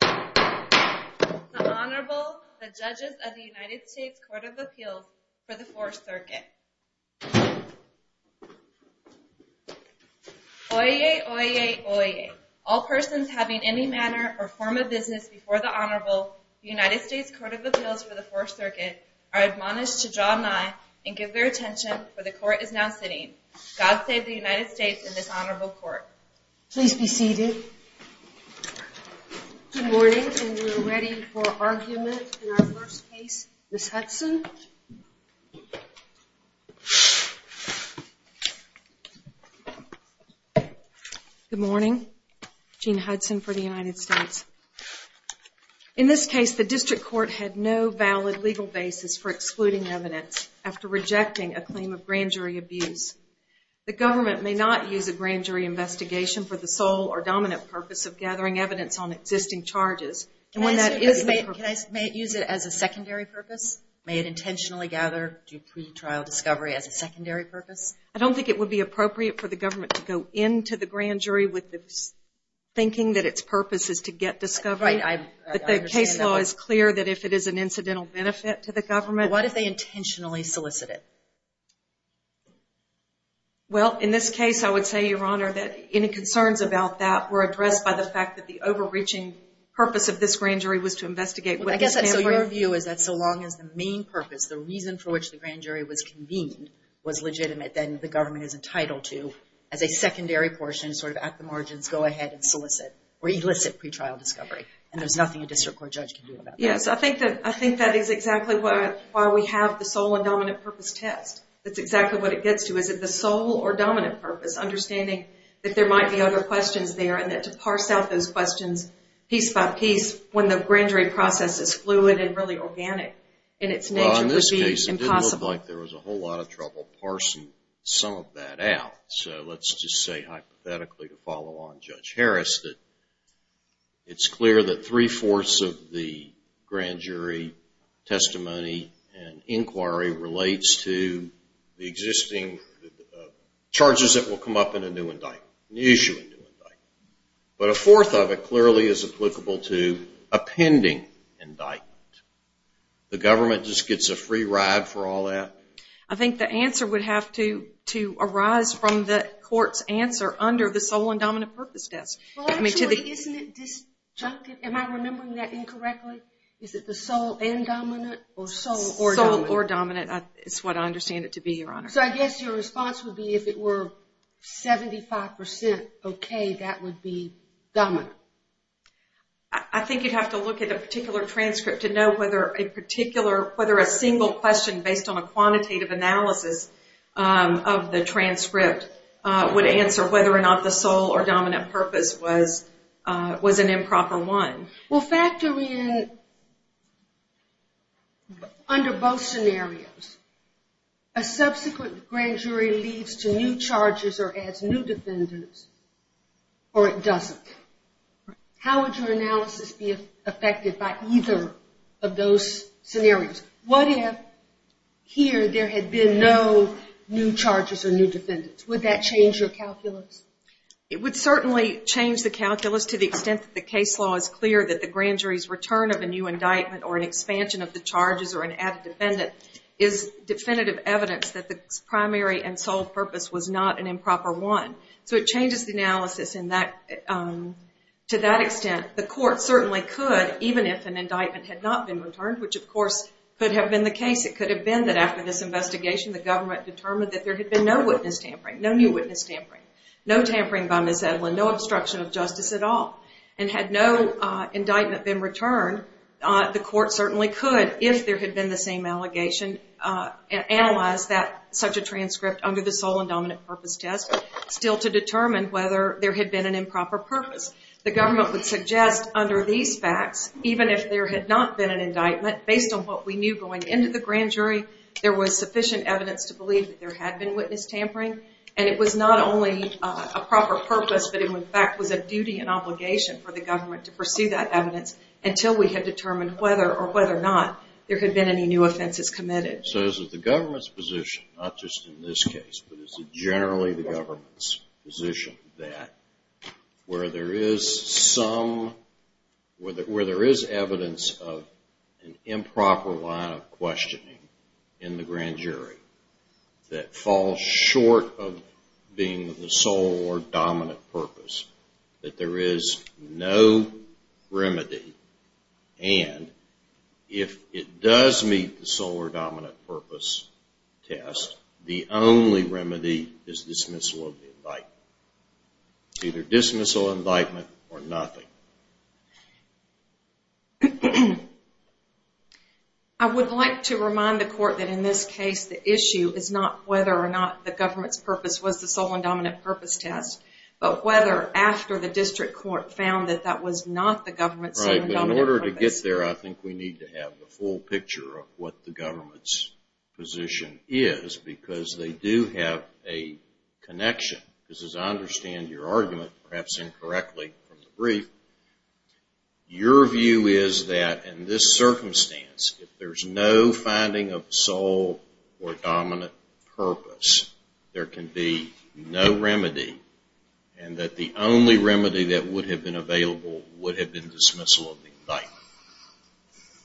The Honorable, the Judges of the United States Court of Appeals for the 4th Circuit Oyez, oyez, oyez. All persons having any manner or form of business before the Honorable, the United States Court of Appeals for the 4th Circuit, are admonished to draw nigh and give their attention, for the Court is now sitting. God save the United States and this Honorable Court. Please be seated. Good morning and we are ready for argument in our first case. Ms. Hudson. Good morning. Jean Hudson for the United States. In this case, the district court had no valid legal basis for excluding evidence after rejecting a claim of grand jury abuse. The government may not use a grand jury investigation for the sole or dominant purpose of gathering evidence on existing charges. Can I use it as a secondary purpose? May it intentionally gather pre-trial discovery as a secondary purpose? I don't think it would be appropriate for the government to go into the grand jury with the thinking that its purpose is to get discovery. Right, I understand that. The case law is clear that if it is an incidental benefit to the government. What if they intentionally solicit it? Well, in this case, I would say, Your Honor, that any concerns about that were addressed by the fact that the overreaching purpose of this grand jury was to investigate. I guess your view is that so long as the main purpose, the reason for which the grand jury was convened, was legitimate, then the government is entitled to, as a secondary portion, sort of at the margins, go ahead and solicit or elicit pre-trial discovery. And there's nothing a district court judge can do about that. Yes, I think that is exactly why we have the sole and dominant purpose test. That's exactly what it gets to. Is it the sole or dominant purpose? Understanding that there might be other questions there and that to parse out those questions piece by piece when the grand jury process is fluid and really organic in its nature would be impossible. Well, in this case, it didn't look like there was a whole lot of trouble parsing some of that out. So let's just say, hypothetically, to follow on Judge Harris, that it's clear that three-fourths of the grand jury testimony and inquiry relates to the existing charges that will come up in a new indictment, new issue in a new indictment. But a fourth of it clearly is applicable to a pending indictment. The government just gets a free ride for all that? I think the answer would have to arise from the court's answer under the sole and dominant purpose test. Well, actually, isn't it disjunctive? Am I remembering that incorrectly? Is it the sole and dominant or sole or dominant? Sole or dominant is what I understand it to be, Your Honor. So I guess your response would be if it were 75% okay, that would be dominant. I think you'd have to look at a particular transcript to know whether a single question based on a quantitative analysis of the transcript would answer whether or not the sole or dominant purpose was an improper one. Well, factor in, under both scenarios, a subsequent grand jury leads to new charges or adds new defendants or it doesn't. How would your analysis be affected by either of those scenarios? What if here there had been no new charges or new defendants? Would that change your calculus? It would certainly change the calculus to the extent that the case law is clear that the grand jury's return of a new indictment or an expansion of the charges or an added defendant is definitive evidence that the primary and sole purpose was not an improper one. So it changes the analysis to that extent. The court certainly could, even if an indictment had not been returned, which of course could have been the case. It could have been that after this investigation the government determined that there had been no witness tampering, no new witness tampering, no tampering by Ms. Edlin, no obstruction of justice at all. And had no indictment been returned, the court certainly could, if there had been the same allegation, analyze such a transcript under the sole and dominant purpose test still to determine whether there had been an improper purpose. The government would suggest under these facts, even if there had not been an indictment, based on what we knew going into the grand jury, there was sufficient evidence to believe that there had been witness tampering. And it was not only a proper purpose, but it in fact was a duty and obligation for the government to pursue that evidence until we had determined whether or whether or not there had been any new offenses committed. So is it the government's position, not just in this case, but is it generally the government's position that where there is some, where there is evidence of an improper line of questioning in the grand jury that falls short of being the sole or dominant purpose, that there is no remedy, and if it does meet the sole or dominant purpose test, the only remedy is dismissal of the indictment. Either dismissal of indictment or nothing. I would like to remind the court that in this case the issue is not whether or not the government's purpose was the sole and dominant purpose test, but whether after the district court found that that was not the government's sole and dominant purpose. I think we need to have the full picture of what the government's position is, because they do have a connection. Because as I understand your argument, perhaps incorrectly from the brief, your view is that in this circumstance, if there is no finding of sole or dominant purpose, there can be no remedy, and that the only remedy that would have been available would have been dismissal of the indictment.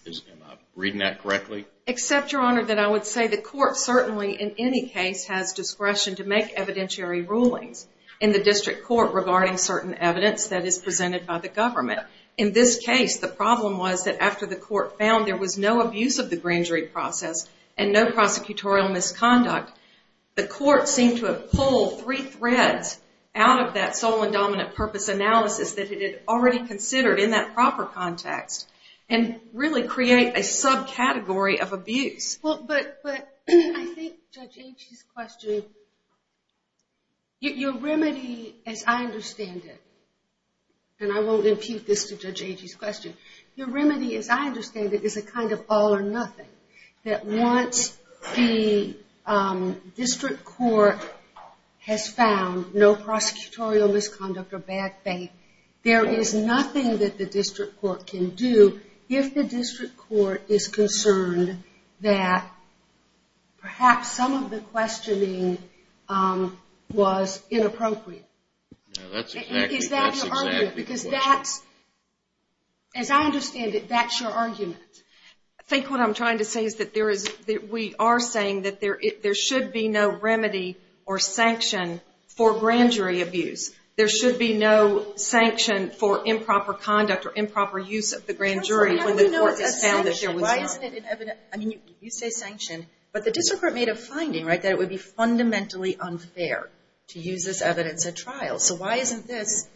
Am I reading that correctly? Except, your honor, that I would say the court certainly in any case has discretion to make evidentiary rulings in the district court regarding certain evidence that is presented by the government. In this case, the problem was that after the court found there was no abuse of the grand jury process and no prosecutorial misconduct, the court seemed to have pulled three threads out of that sole and dominant purpose analysis that it had already considered in that proper context, and really create a subcategory of abuse. But I think Judge Agee's question, your remedy as I understand it, and I won't impute this to Judge Agee's question, your remedy as I understand it is a kind of all or nothing. That once the district court has found no prosecutorial misconduct or bad faith, there is nothing that the district court can do if the district court is concerned that perhaps some of the questioning was inappropriate. Is that your argument? As I understand it, that's your argument. I think what I'm trying to say is that we are saying that there should be no remedy or sanction for grand jury abuse. There should be no sanction for improper conduct or improper use of the grand jury when the court has found that there was none. You say sanction, but the district court made a finding that it would be fundamentally unfair to use this evidence at trial. So why isn't this,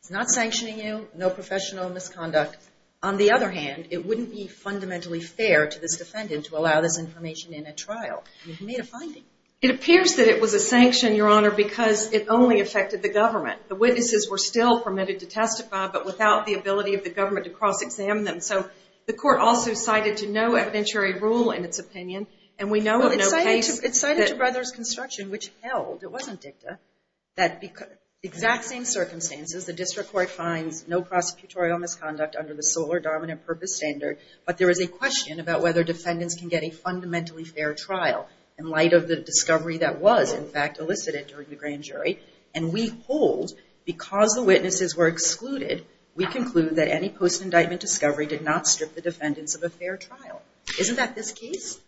it's not sanctioning you, no professional misconduct. On the other hand, it wouldn't be fundamentally fair to this defendant to allow this information in a trial. You've made a finding. It appears that it was a sanction, Your Honor, because it only affected the government. The witnesses were still permitted to testify, but without the ability of the government to cross-examine them. So the court also cited to no evidentiary rule in its opinion. It cited to Brothers Construction, which held, it wasn't dicta, that exact same circumstances, the district court finds no prosecutorial misconduct under the Solar Dominant Purpose Standard, but there is a question about whether defendants can get a fundamentally fair trial in light of the discovery that was, in fact, elicited during the grand jury. And we hold, because the witnesses were excluded, we conclude that any post-indictment discovery did not strip the defendants of a fair trial. Isn't that this case?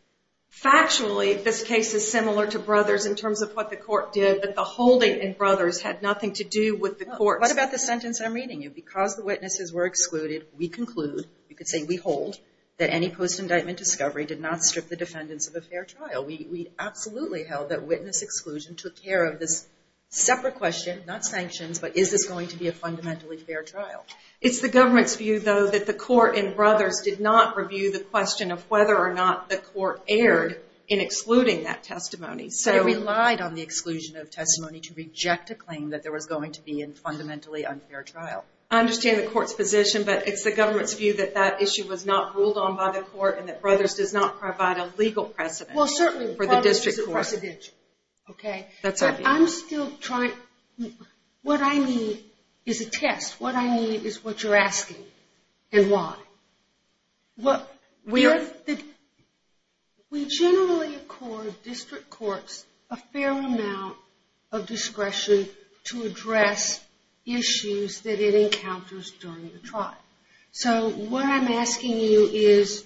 Factually, this case is similar to Brothers in terms of what the court did, but the holding in Brothers had nothing to do with the court. What about the sentence I'm reading you? Because the witnesses were excluded, we conclude, you could say we hold, that any post-indictment discovery did not strip the defendants of a fair trial. We absolutely held that witness exclusion took care of this separate question, not sanctions, but is this going to be a fundamentally fair trial? It's the government's view, though, that the court in Brothers did not review the question of whether or not the court erred in excluding that testimony. So it relied on the exclusion of testimony to reject a claim that there was going to be a fundamentally unfair trial. I understand the court's position, but it's the government's view that that issue was not ruled on by the court and that Brothers does not provide a legal precedent. Well, certainly Brothers is a precedent. That's our view. What I need is a test. What I need is what you're asking and why. We generally accord district courts a fair amount of discretion to address issues that it encounters during the trial. So what I'm asking you is,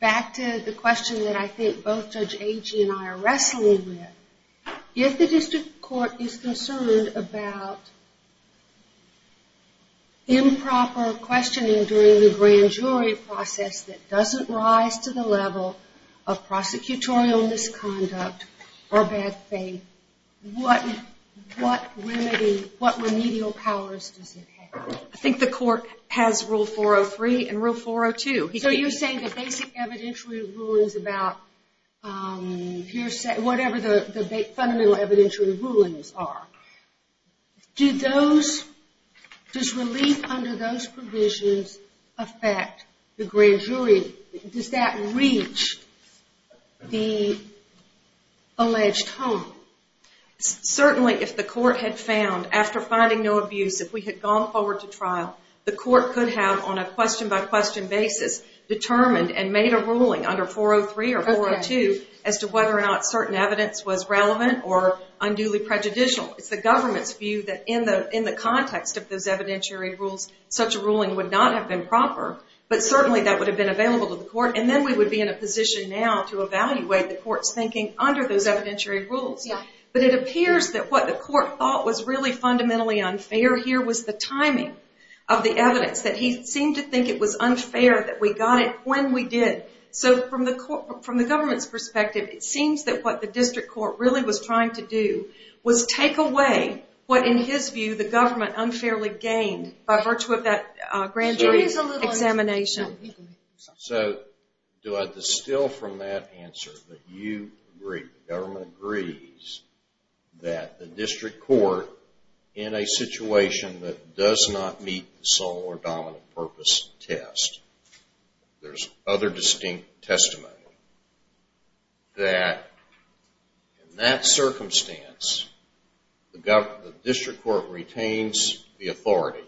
back to the question that I think both Judge Agee and I are wrestling with, if the district court is concerned about improper questioning during the grand jury process that doesn't rise to the level of prosecutorial misconduct or bad faith, what remedial powers does it have? I think the court has Rule 403 and Rule 402. So you're saying the basic evidentiary rulings about whatever the fundamental evidentiary rulings are. Does relief under those provisions affect the grand jury? Does that reach the alleged home? Certainly, if the court had found, after finding no abuse, if we had gone forward to trial, the court could have, on a question-by-question basis, determined and made a ruling under 403 or 402 as to whether or not certain evidence was relevant or unduly prejudicial. It's the government's view that in the context of those evidentiary rules, such a ruling would not have been proper, but certainly that would have been available to the court, and then we would be in a position now to evaluate the court's thinking under those evidentiary rules. But it appears that what the court thought was really fundamentally unfair here was the timing of the evidence, that he seemed to think it was unfair that we got it when we did. So from the government's perspective, it seems that what the district court really was trying to do was take away what, in his view, the government unfairly gained by virtue of that grand jury example. So do I distill from that answer that you agree, the government agrees, that the district court, in a situation that does not meet the sole or dominant purpose test, there's other distinct testimony, that in that circumstance, the district court retains the authority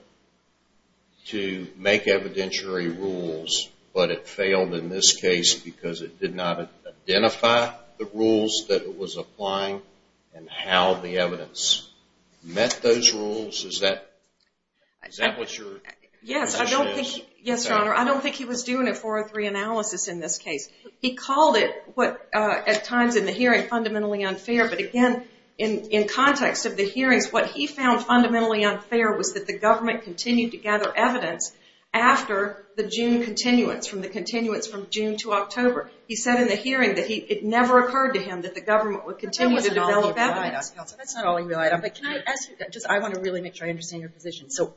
to make evidentiary rules, but it failed in this case because it did not identify the rules that it was applying and how the evidence met those rules? Is that what your position is? Yes, Your Honor. I don't think he was doing a 403 analysis in this case. He called it, at times in the hearing, fundamentally unfair, but again, in context of the hearings, what he found fundamentally unfair was that the government continued to gather evidence after the June continuance, from the continuance from June to October. He said in the hearing that it never occurred to him that the government would continue to develop evidence. That's not all he relied on. I want to really make sure I understand your position. So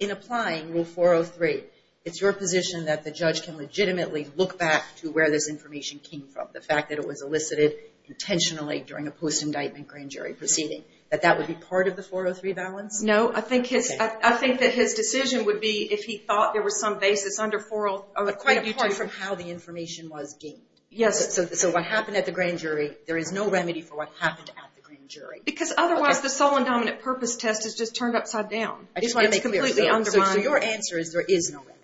in applying Rule 403, it's your position that the judge can legitimately look back to where this information came from, the fact that it was elicited intentionally during a post-indictment grand jury proceeding, that that would be part of the 403 balance? No. I think that his decision would be, if he thought there was some basis under 403, quite different from how the information was gained. Yes. So what happened at the grand jury, there is no remedy for what happened at the grand jury. Because otherwise, the sole and dominant purpose test is just turned upside down. I just want to make it clear. It's completely undermined. So your answer is there is no remedy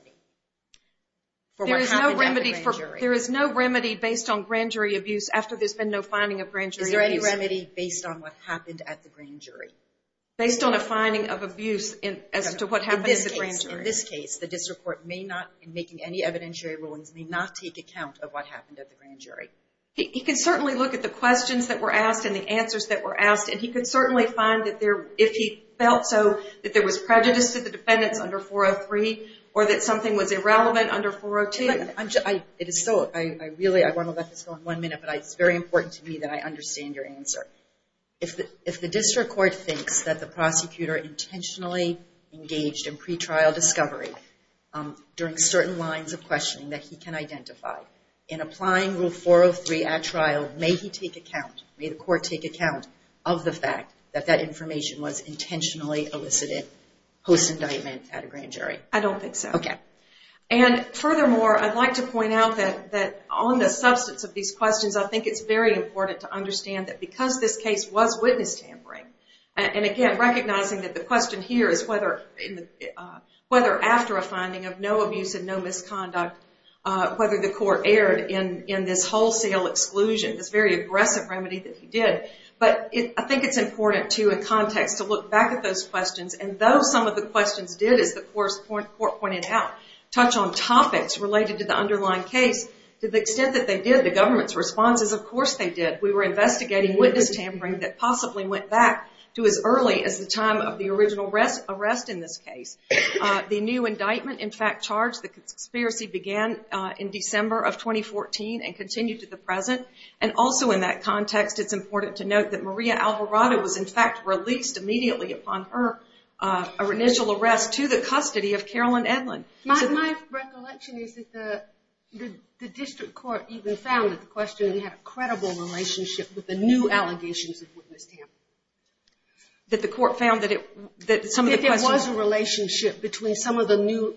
for what happened at the grand jury. There is no remedy based on grand jury abuse after there's been no finding of grand jury abuse. Is there any remedy based on what happened at the grand jury? Based on a finding of abuse as to what happened at the grand jury. In this case, the district court may not, in making any evidentiary rulings, may not take account of what happened at the grand jury. He can certainly look at the questions that were asked and the answers that were asked, and he could certainly find that if he felt so, that there was prejudice to the defendants under 403 or that something was irrelevant under 402. I want to let this go on one minute, but it's very important to me that I understand your answer. If the district court thinks that the prosecutor intentionally engaged in pretrial discovery during certain lines of questioning that he can identify, in applying Rule 403 at trial, may he take account, may the court take account of the fact that that information was intentionally elicited post-indictment at a grand jury? I don't think so. Okay. And furthermore, I'd like to point out that on the substance of these questions, I think it's very important to understand that because this case was witness tampering, and again, recognizing that the question here is whether after a finding of no abuse and no misconduct, whether the court erred in this wholesale exclusion, this very aggressive remedy that he did. But I think it's important, too, in context to look back at those questions, and though some of the questions did, as the court pointed out, touch on topics related to the underlying case, to the extent that they did, the government's response is, of course they did. We were investigating witness tampering that possibly went back to as early as the time of the original arrest in this case. The new indictment, in fact, charged the conspiracy began in December of 2014 and continued to the present. And also in that context, it's important to note that Maria Alvarado was, in fact, released immediately upon her initial arrest to the custody of Carolyn Edlin. My recollection is that the district court even found that the question had a credible relationship with the new allegations of witness tampering. That the court found that it was a relationship between some of the new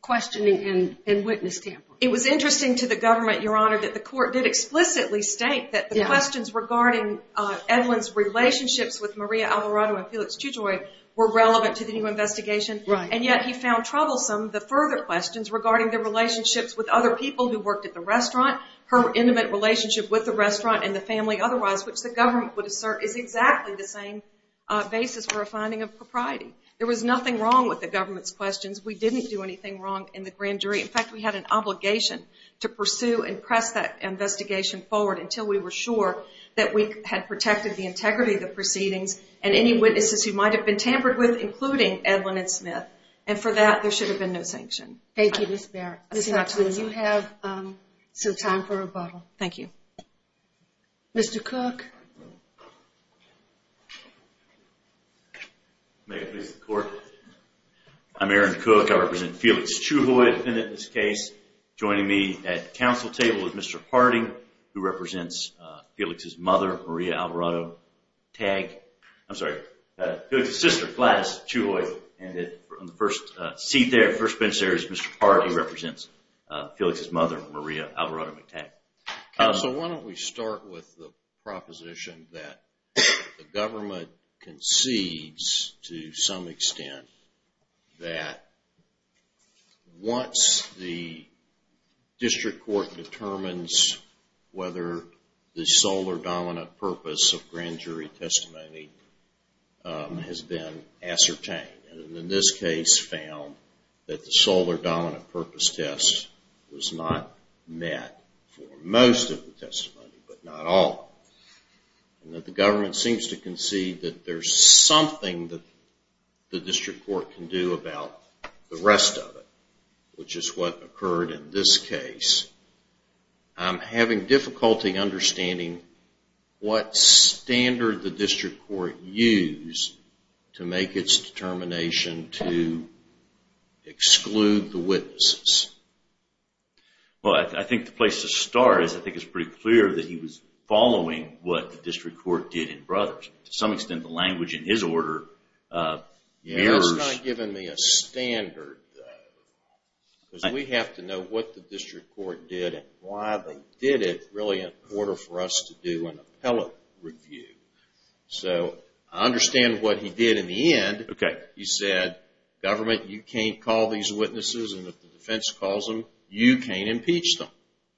questioning and witness tampering. It was interesting to the government, Your Honor, that the court did explicitly state that the questions regarding Edlin's relationships with Maria Alvarado and Felix Chujoi were relevant to the new investigation. And yet he found troublesome the further questions regarding the relationships with other people who worked at the restaurant, her intimate relationship with the restaurant and the family otherwise, which the government would assert is exactly the same basis for a finding of propriety. There was nothing wrong with the government's questions. We didn't do anything wrong in the grand jury. In fact, we had an obligation to pursue and press that investigation forward until we were sure that we had protected the integrity of the proceedings and any witnesses who might have been tampered with, including Edlin and Smith. And for that, there should have been no sanction. Thank you, Ms. Barrett. Ms. Hutchins, you have some time for rebuttal. Thank you. Mr. Cook. May it please the court. I'm Aaron Cook. I represent Felix Chujoi, a defendant in this case. Joining me at the council table is Mr. Harding, who represents Felix's mother, Maria Alvarado-McTagg. I'm sorry, Felix's sister, Gladys Chujoi. And in the first seat there, first bench there is Mr. Harding, who represents Felix's mother, Maria Alvarado-McTagg. Counsel, why don't we start with the proposition that the government concedes to some extent that once the district court determines whether the sole or dominant purpose of grand jury testimony has been ascertained. And in this case, found that the sole or dominant purpose test was not met for most of the testimony, but not all. And that the government seems to concede that there's something that the district court can do about the rest of it, which is what occurred in this case. I'm having difficulty understanding what standard the district court used to make its determination to exclude the witnesses. Well, I think the place to start is I think it's pretty clear that he was following what the district court did in Brothers. To some extent, the language in his order mirrors... Because we have to know what the district court did and why they did it really in order for us to do an appellate review. So I understand what he did in the end. Okay. He said, government, you can't call these witnesses, and if the defense calls them, you can't impeach them.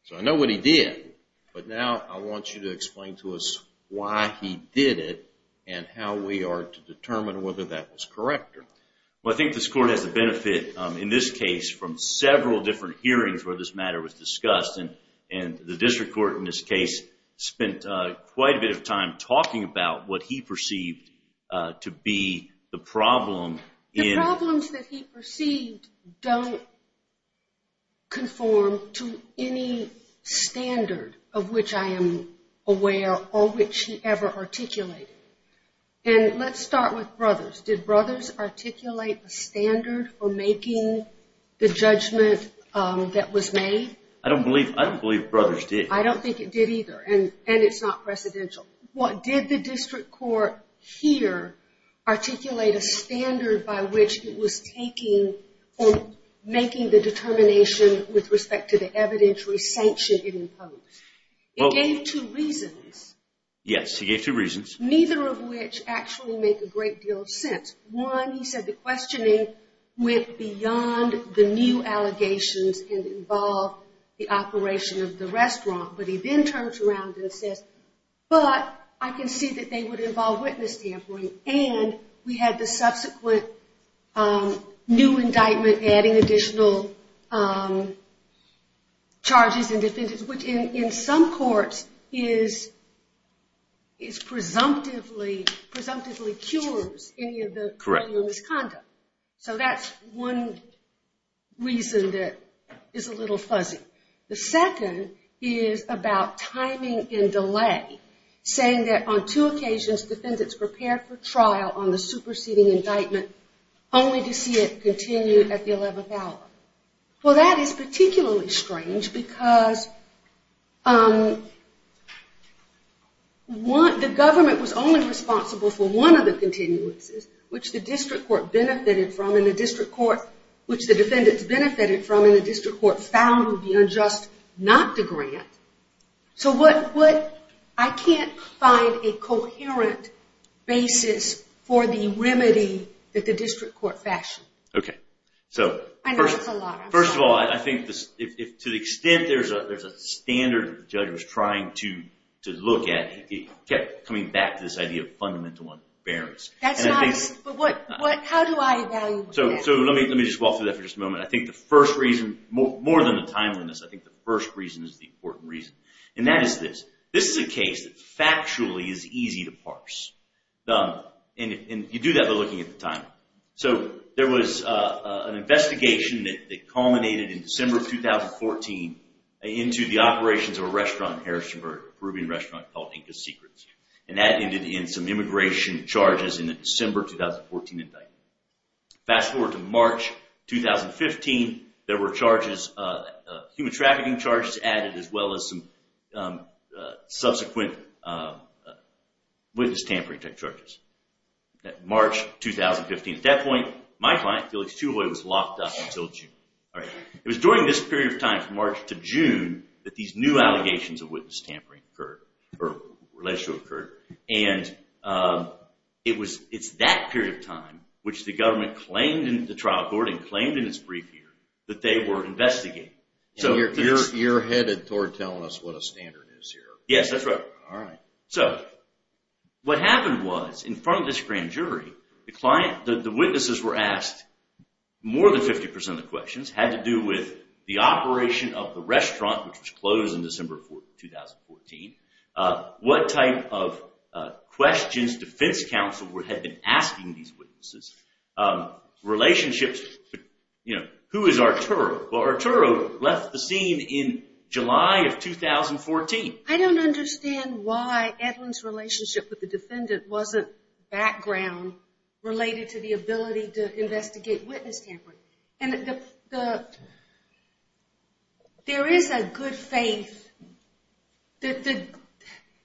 So I know what he did, but now I want you to explain to us why he did it and how we are to determine whether that was correct or not. Well, I think this court has the benefit in this case from several different hearings where this matter was discussed, and the district court in this case spent quite a bit of time talking about what he perceived to be the problem. The problems that he perceived don't conform to any standard of which I am aware or which he ever articulated. And let's start with Brothers. Did Brothers articulate a standard for making the judgment that was made? I don't believe Brothers did. I don't think it did either, and it's not precedential. Did the district court here articulate a standard by which it was taking or making the determination with respect to the evidentiary sanction it imposed? It gave two reasons. Yes, it gave two reasons. Neither of which actually make a great deal of sense. One, he said the questioning went beyond the new allegations and involved the operation of the restaurant, but he then turns around and says, but I can see that they would involve witness tampering, and we had the subsequent new indictment adding additional charges and defendants, which in some courts presumptively cures any of the misconduct. So that's one reason that is a little fuzzy. The second is about timing and delay, saying that on two occasions defendants prepared for trial on the superseding indictment only to see it continue at the 11th hour. Well, that is particularly strange because the government was only responsible for one of the continuances, which the district court benefited from and the district court found to be unjust not to grant. So I can't find a coherent basis for the remedy that the district court fashioned. Okay. First of all, I think to the extent there's a standard that the judge was trying to look at, it kept coming back to this idea of fundamental unfairness. How do I evaluate that? So let me just walk through that for just a moment. I think the first reason, more than the timeliness, I think the first reason is the important reason, and that is this. This is a case that factually is easy to parse, and you do that by looking at the timing. So there was an investigation that culminated in December of 2014 into the operations of a restaurant in Harrisonburg, a Peruvian restaurant called Inca Secrets, and that ended in some immigration charges in the December 2014 indictment. Fast forward to March 2015, there were charges, human trafficking charges added, as well as some subsequent witness tampering charges. March 2015. At that point, my client, Felix Chihuly, was locked up until June. All right. It was during this period of time from March to June that these new allegations of witness tampering occurred, or relationship occurred, and it's that period of time which the government claimed in the trial court and claimed in its brief here that they were investigating. So you're headed toward telling us what a standard is here. Yes, that's right. All right. So what happened was, in front of this grand jury, the witnesses were asked more than 50% of the questions. It had to do with the operation of the restaurant, which was closed in December 2014, what type of questions defense counsel had been asking these witnesses, relationships. Who is Arturo? Well, Arturo left the scene in July of 2014. I don't understand why Edwin's relationship with the defendant wasn't background related to the ability to investigate witness tampering. And there is a good faith that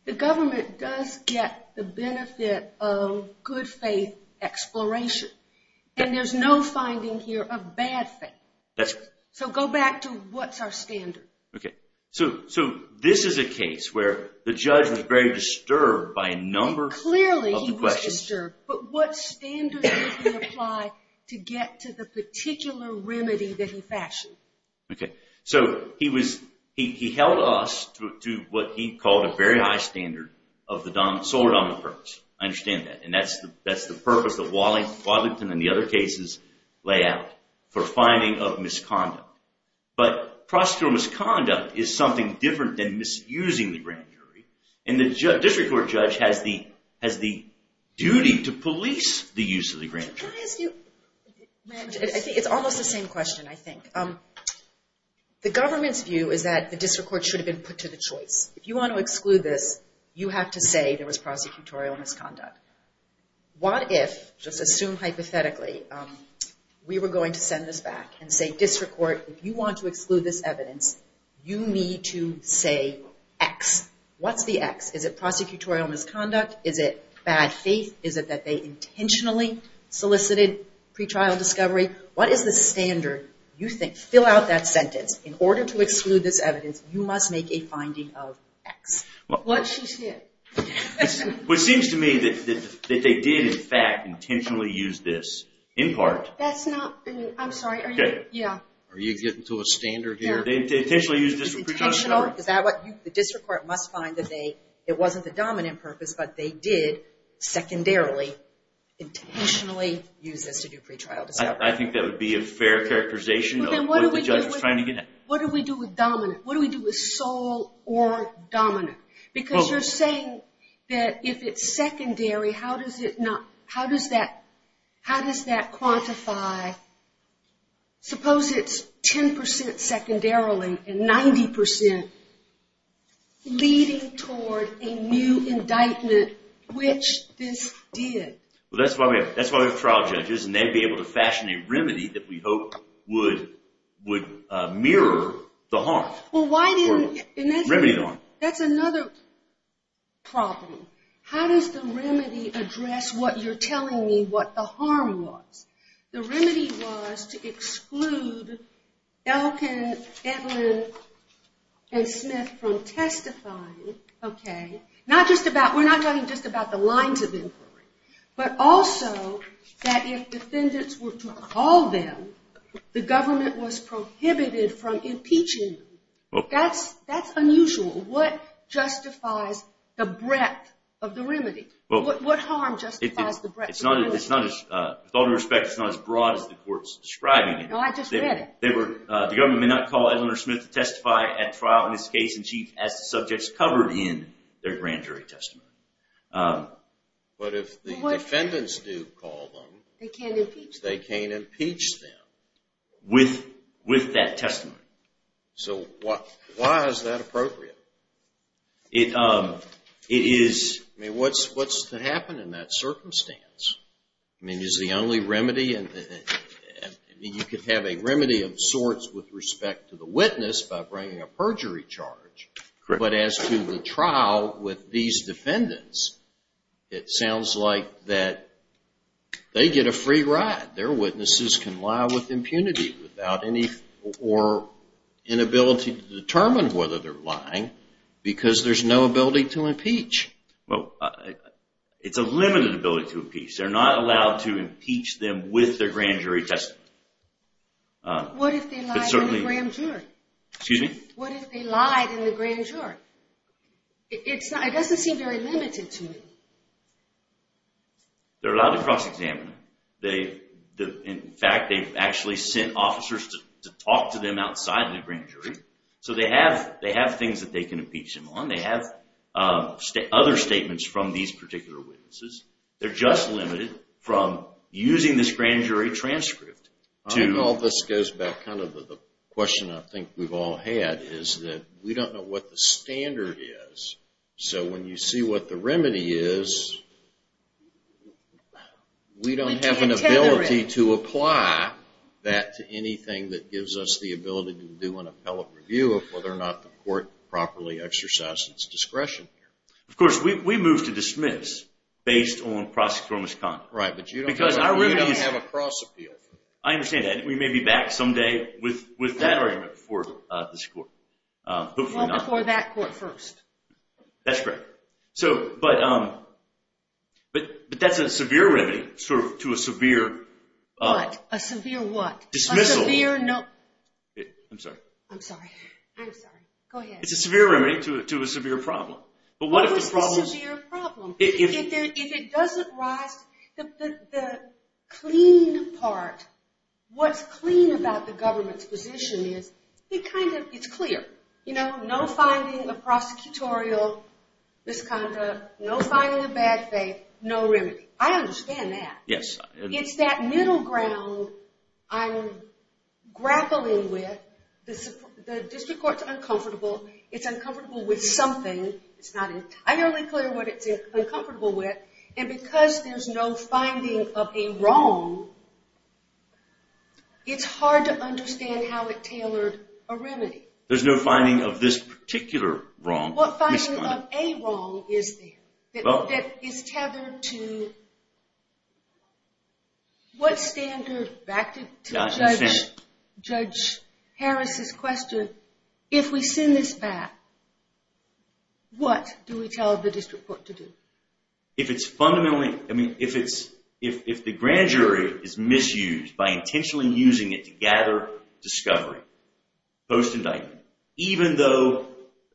the government does get the benefit of good faith exploration, and there's no finding here of bad faith. That's right. So go back to what's our standard. Okay. So this is a case where the judge was very disturbed by a number of the questions. Clearly he was disturbed, but what standard did he apply to get to the particular remedy that he factioned? Okay. So he held us to what he called a very high standard of the sole or dominant purpose. I understand that, and that's the purpose that Wadlington and the other cases lay out, for finding of misconduct. But prosecutorial misconduct is something different than misusing the grand jury, and the district court judge has the duty to police the use of the grand jury. Can I ask you? I think it's almost the same question, I think. The government's view is that the district court should have been put to the choice. If you want to exclude this, you have to say there was prosecutorial misconduct. What if, just assume hypothetically, we were going to send this back and say, District Court, if you want to exclude this evidence, you need to say X. What's the X? Is it prosecutorial misconduct? Is it bad faith? Is it that they intentionally solicited pretrial discovery? What is the standard you think? Fill out that sentence. In order to exclude this evidence, you must make a finding of X. What she said. It seems to me that they did, in fact, intentionally use this, in part. That's not, I'm sorry. Are you getting to a standard here? They intentionally used this for pretrial discovery. The district court must find that it wasn't the dominant purpose, but they did, secondarily, intentionally use this to do pretrial discovery. I think that would be a fair characterization of what the judge was trying to get at. What do we do with dominant? What do we do with sole or dominant? Because you're saying that if it's secondary, how does that quantify, suppose it's 10% secondarily and 90% leading toward a new indictment, which this did. That's why we have trial judges, and they'd be able to fashion a remedy that we hope would mirror the harm. Remedy the harm. That's another problem. How does the remedy address what you're telling me what the harm was? The remedy was to exclude Elkin, Edlin, and Smith from testifying. We're not talking just about the lines of inquiry, but also that if defendants were to call them, the government was prohibited from impeaching them. That's unusual. What justifies the breadth of the remedy? What harm justifies the breadth of the remedy? With all due respect, it's not as broad as the court's describing it. No, I just read it. The government may not call Edlin or Smith to testify at trial in this case in chief as the subject's covered in their grand jury testimony. But if the defendants do call them, they can't impeach them. With that testimony. So why is that appropriate? It is. I mean, what's to happen in that circumstance? I mean, is the only remedy? I mean, you could have a remedy of sorts with respect to the witness by bringing a perjury charge. Correct. But as to the trial with these defendants, it sounds like that they get a free ride. Their witnesses can lie with impunity or inability to determine whether they're lying because there's no ability to impeach. Well, it's a limited ability to impeach. They're not allowed to impeach them with their grand jury testimony. What if they lied in the grand jury? Excuse me? What if they lied in the grand jury? It doesn't seem very limited to me. They're allowed to cross-examine. In fact, they've actually sent officers to talk to them outside the grand jury. So they have things that they can impeach them on. They have other statements from these particular witnesses. They're just limited from using this grand jury transcript. I think all this goes back to the question I think we've all had, is that we don't know what the standard is. So when you see what the remedy is, we don't have an ability to apply that to anything that gives us the ability to do an appellate review of whether or not the court properly exercises its discretion here. Of course, we move to dismiss based on prosecutorial misconduct. Right, but you don't have a cross-appeal. I understand that. We may be back someday with that argument before this court. Well, before that court first. That's correct. But that's a severe remedy to a severe... What? A severe what? Dismissal. I'm sorry. I'm sorry. I'm sorry. Go ahead. It's a severe remedy to a severe problem. What if it's a severe problem? If it doesn't rise, the clean part, what's clean about the government's position is, it's clear. No finding of prosecutorial misconduct, no finding of bad faith, no remedy. I understand that. Yes. It's that middle ground I'm grappling with. The district court's uncomfortable. It's uncomfortable with something. It's not entirely clear what it's uncomfortable with. And because there's no finding of a wrong, it's hard to understand how it tailored a remedy. There's no finding of this particular wrong. What finding of a wrong is there that is tethered to... What standard, back to Judge Harris's question, if we send this back, what do we tell the district court to do? If it's fundamentally... If the grand jury is misused by intentionally using it to gather discovery post-indictment, even though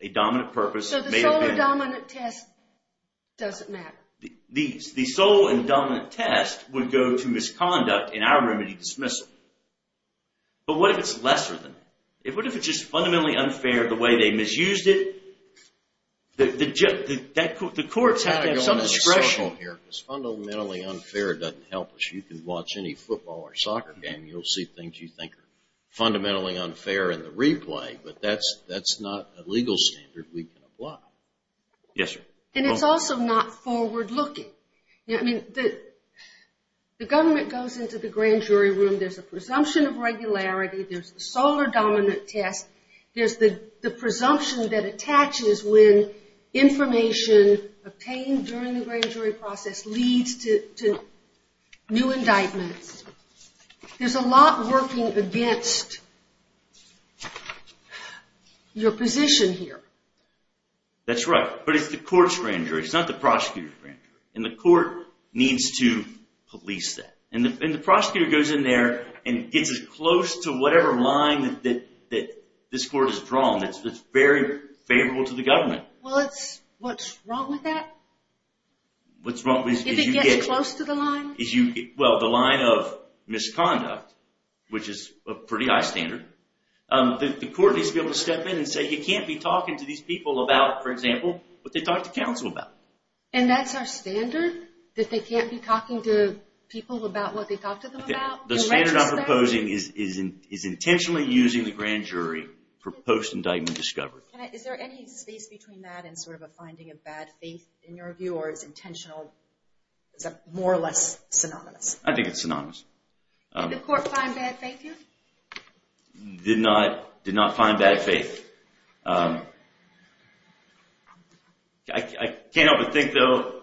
a dominant purpose may have been... So the sole and dominant test doesn't matter. The sole and dominant test would go to misconduct in our remedy dismissal. But what if it's lesser than that? What if it's just fundamentally unfair the way they misused it? The courts have to have some discretion here because fundamentally unfair doesn't help us. You can watch any football or soccer game. You'll see things you think are fundamentally unfair in the replay, but that's not a legal standard we can apply. Yes, sir. And it's also not forward-looking. The government goes into the grand jury room. There's a presumption of regularity. There's the sole or dominant test. There's the presumption that attaches when information obtained during the grand jury process leads to new indictments. There's a lot working against your position here. That's right, but it's the court's grand jury. It's not the prosecutor's grand jury. And the court needs to police that. And the prosecutor goes in there and gets as close to whatever line that this court has drawn that's very favorable to the government. Well, what's wrong with that? What's wrong with it? If it gets close to the line? Well, the line of misconduct, which is a pretty high standard. The court needs to be able to step in and say, you can't be talking to these people about, for example, what they talked to counsel about. And that's our standard? That they can't be talking to people about what they talked to them about? The standard I'm proposing is intentionally using the grand jury for post-indictment discovery. Is there any space between that and sort of a finding of bad faith in your view, or is intentional more or less synonymous? I think it's synonymous. Did the court find bad faith here? Did not find bad faith. I can't help but think, though.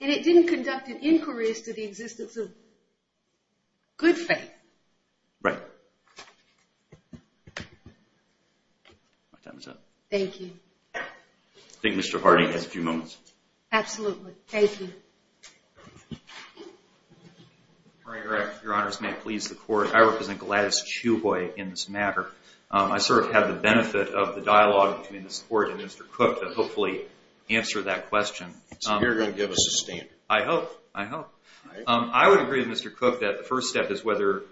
And it didn't conduct inquiries to the existence of good faith. Right. Thank you. I think Mr. Hardy has a few moments. Absolutely. Thank you. Your Honors, may it please the court, I represent Gladys Chuhoy in this matter. I sort of have the benefit of the dialogue between this court and Mr. Cook and hopefully answer that question. So you're going to give us a stand? I hope. I hope. I would agree with Mr. Cook that the first step is whether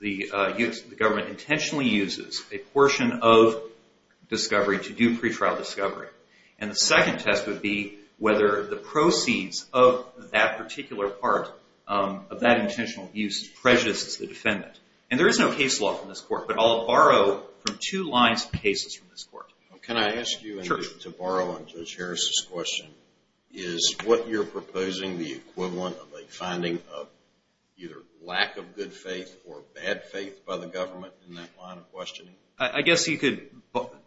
the government intentionally uses a portion of discovery to do pretrial discovery. And the second test would be whether the proceeds of that particular part of that intentional abuse prejudices the defendant. And there is no case law from this court, but I'll borrow from two lines of cases from this court. Can I ask you, to borrow on Judge Harris' question, is what you're proposing the equivalent of a finding of either lack of good faith or bad faith by the government in that line of questioning? I guess you could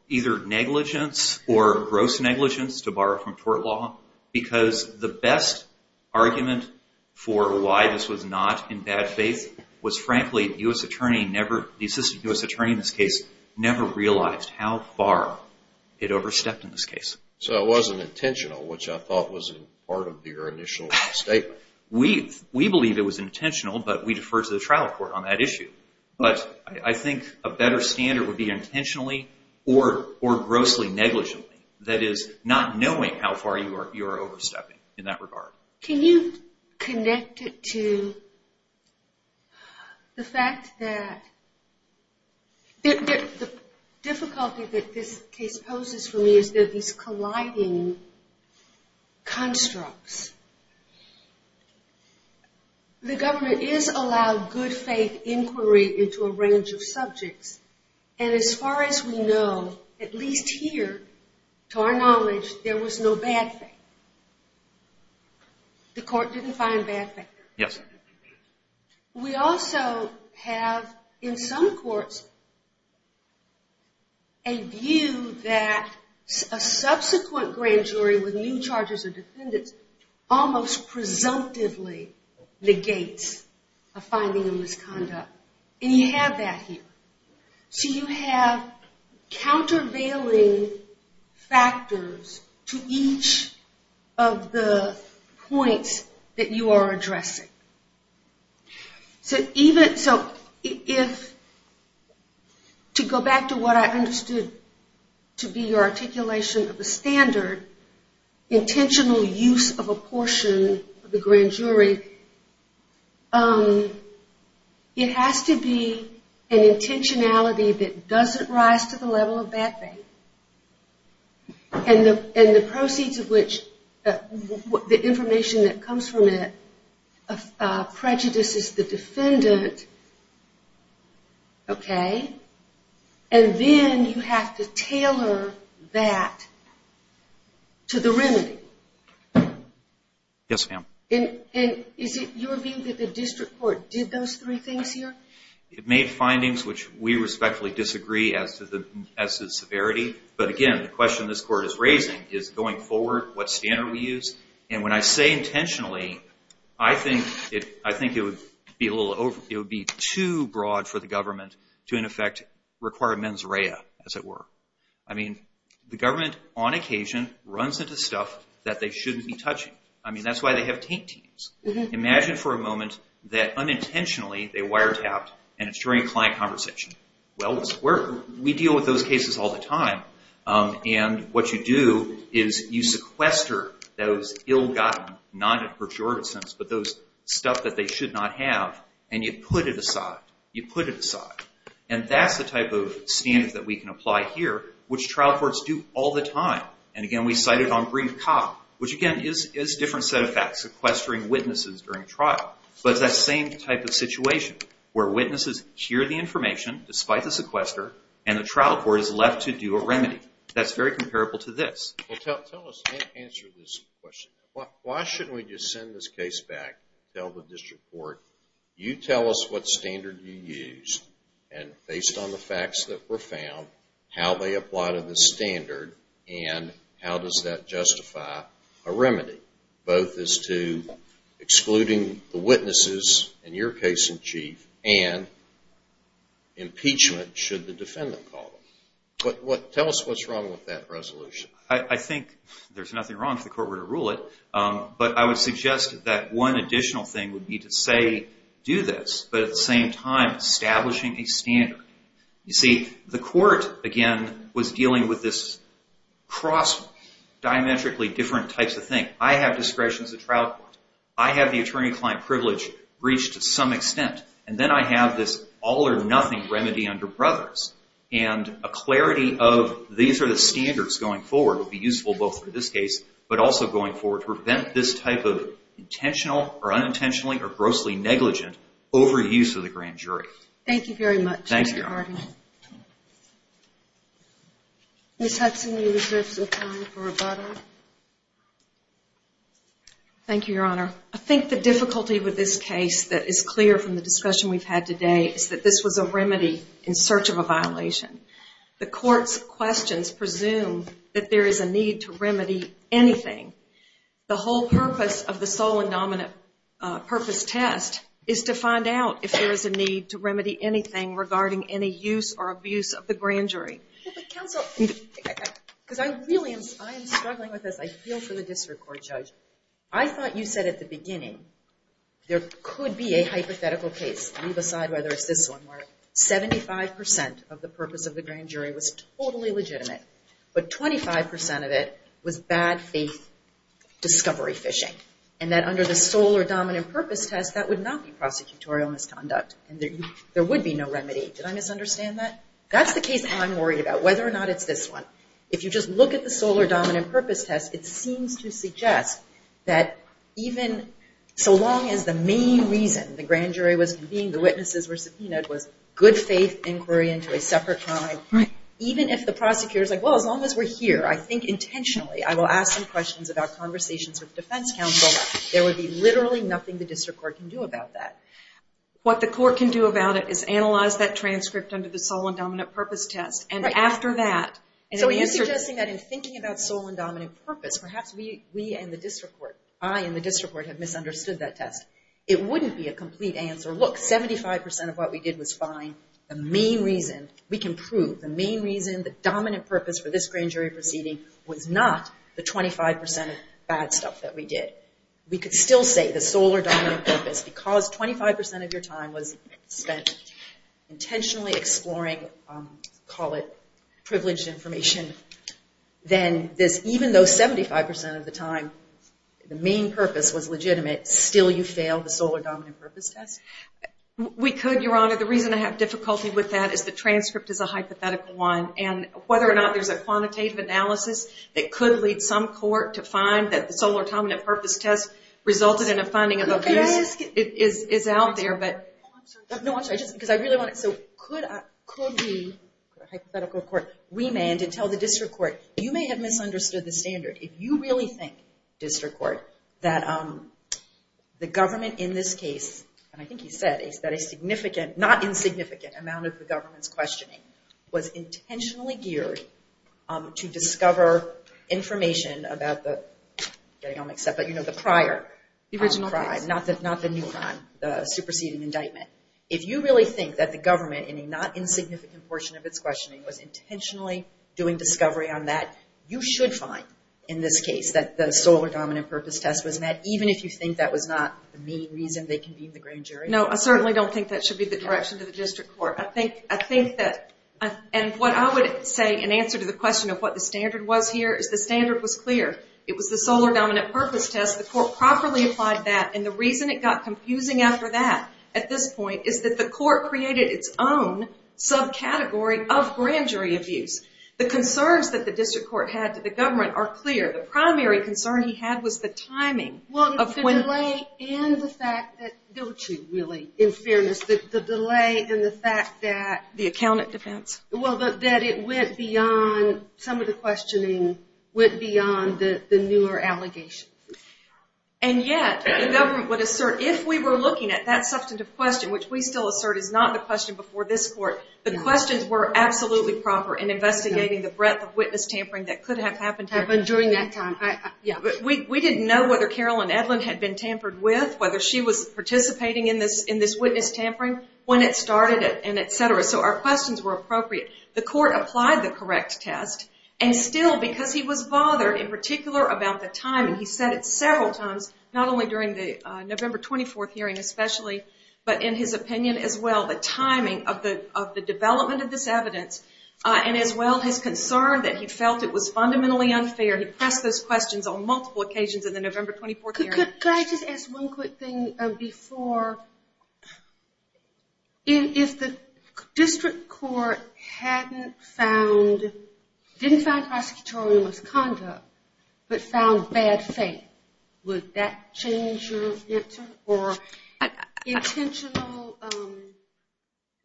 either negligence or gross negligence, to borrow from court law, because the best argument for why this was not in bad faith was, frankly, the assistant U.S. attorney in this case never realized how far it overstepped in this case. So it wasn't intentional, which I thought was part of your initial statement. We believe it was intentional, but we defer to the trial court on that issue. But I think a better standard would be intentionally or grossly negligently, that is, not knowing how far you are overstepping in that regard. Can you connect it to the fact that the difficulty that this case poses for me is that these colliding constructs. The government is allowing good faith inquiry into a range of subjects, and as far as we know, at least here, to our knowledge, there was no bad faith. The court didn't find bad faith. Yes. We also have, in some courts, a view that a subsequent grand jury with new charges or defendants almost presumptively negates a finding of misconduct. And you have that here. So you have countervailing factors to each of the points that you are addressing. To go back to what I understood to be your articulation of the standard, intentional use of a portion of the grand jury, it has to be an intentionality that doesn't rise to the level of bad faith and the proceeds of which, the information that comes from it, prejudices the defendant, okay? And then you have to tailor that to the remedy. Yes, ma'am. And is it your view that the district court did those three things here? It made findings which we respectfully disagree as to the severity, but again, the question this court is raising is going forward, what standard do we use? And when I say intentionally, I think it would be too broad for the government to in effect require mens rea, as it were. I mean, the government on occasion runs into stuff that they shouldn't be touching. I mean, that's why they have taint teams. Imagine for a moment that unintentionally they wiretapped and it's during a client conversation. Well, we deal with those cases all the time, and what you do is you sequester those ill-gotten, not in a pejorative sense, but those stuff that they should not have, and you put it aside. You put it aside. And that's the type of standard that we can apply here, which trial courts do all the time. And again, we cite it on brief cop, which again is a different set of facts, sequestering witnesses during trial. But it's that same type of situation where witnesses hear the information despite the sequester, and the trial court is left to do a remedy. That's very comparable to this. Well, tell us the answer to this question. Why shouldn't we just send this case back, tell the district court, you tell us what standard you used, and based on the facts that were found, how they apply to this standard and how does that justify a remedy, both as to excluding the witnesses in your case in chief and impeachment should the defendant call them. Tell us what's wrong with that resolution. I think there's nothing wrong if the court were to rule it, but I would suggest that one additional thing would be to say do this, but at the same time establishing a standard. You see, the court, again, was dealing with this cross, diametrically different types of things. I have discretion as a trial court. I have the attorney-client privilege reached to some extent, and then I have this all-or-nothing remedy under Brothers, and a clarity of these are the standards going forward would be useful both for this case but also going forward to prevent this type of intentional or unintentionally or grossly negligent overuse of the grand jury. Thank you very much. Thank you. Ms. Hudson, you reserve some time for rebuttal. Thank you, Your Honor. I think the difficulty with this case that is clear from the discussion we've had today is that this was a remedy in search of a violation. The court's questions presume that there is a need to remedy anything. The whole purpose of the sole and dominant purpose test is to find out if there is a need to remedy anything regarding any use or abuse of the grand jury. Counsel, because I really am struggling with this. I feel for the district court judge. I thought you said at the beginning there could be a hypothetical case. Leave aside whether it's this one. Seventy-five percent of the purpose of the grand jury was totally legitimate, but 25% of it was bad faith discovery fishing, and that under the sole or dominant purpose test, that would not be prosecutorial misconduct. There would be no remedy. Did I misunderstand that? That's the case I'm worried about, whether or not it's this one. If you just look at the sole or dominant purpose test, it seems to suggest that even so long as the main reason the grand jury was convened, the witnesses were subpoenaed, was good faith inquiry into a separate crime, even if the prosecutor is like, well, as long as we're here, I think intentionally I will ask some questions about conversations with defense counsel, there would be literally nothing the district court can do about that. What the court can do about it is analyze that transcript under the sole and dominant purpose test, and after that. So are you suggesting that in thinking about sole and dominant purpose, perhaps we and the district court, I and the district court have misunderstood that test. It wouldn't be a complete answer. Look, 75% of what we did was fine. The main reason, we can prove, the main reason the dominant purpose for this grand jury proceeding was not the 25% of bad stuff that we did. We could still say the sole or dominant purpose, because 25% of your time was spent intentionally exploring, call it privileged information, then even though 75% of the time the main purpose was legitimate, still you failed the sole or dominant purpose test? We could, Your Honor. The reason I have difficulty with that is the transcript is a hypothetical one, and whether or not there's a quantitative analysis that could lead some court to find that the sole or dominant purpose test resulted in a finding of abuse is out there. Could we, hypothetical court, remand and tell the district court, you may have misunderstood the standard. If you really think, district court, that the government in this case, and I think you said, is that a significant, not insignificant, amount of the government's questioning was intentionally geared to discover information about the prior crime, not the new crime, the superseding indictment. If you really think that the government, in a not insignificant portion of its questioning, was intentionally doing discovery on that, you should find in this case that the sole or dominant purpose test was met, even if you think that was not the main reason they convened the grand jury. No, I certainly don't think that should be the direction to the district court. I think that, and what I would say, in answer to the question of what the standard was here, is the standard was clear. It was the sole or dominant purpose test. The court properly applied that, and the reason it got confusing after that, at this point, is that the court created its own subcategory of grand jury abuse. The concerns that the district court had to the government are clear. The primary concern he had was the timing. The delay in the fact that, don't you really, in fairness, the delay in the fact that, well, that it went beyond, some of the questioning went beyond the newer allegations. And yet, the government would assert, if we were looking at that substantive question, which we still assert is not the question before this court, the questions were absolutely proper in investigating the breadth of witness tampering that could have happened. Happened during that time. We didn't know whether Carolyn Edlin had been tampered with, whether she was participating in this witness tampering, when it started, and et cetera. So our questions were appropriate. The court applied the correct test, and still because he was bothered in particular about the timing, he said it several times, not only during the November 24th hearing especially, but in his opinion as well, the timing of the development of this evidence, and as well his concern that he felt it was fundamentally unfair. He pressed those questions on multiple occasions in the November 24th hearing. Could I just ask one quick thing before, if the district court hadn't found, didn't find prosecutorial misconduct, but found bad faith, would that change your answer, or intentional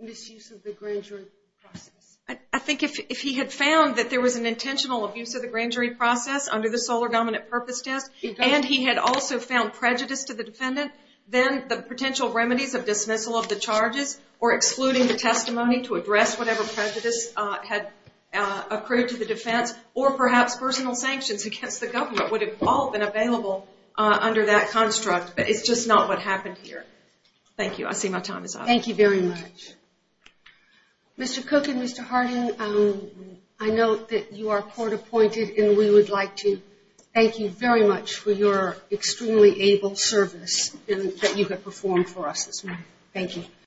misuse of the grand jury process? I think if he had found that there was an intentional abuse of the grand jury process under the Solar Dominant Purpose Test, and he had also found prejudice to the defendant, then the potential remedies of dismissal of the charges, or excluding the testimony to address whatever prejudice had accrued to the defense, or perhaps personal sanctions against the government, would have all been available under that construct. But it's just not what happened here. Thank you. I see my time is up. Thank you very much. Mr. Cook and Mr. Harding, I know that you are court appointed, and we would like to thank you very much for your extremely able service that you have performed for us this morning. Thank you.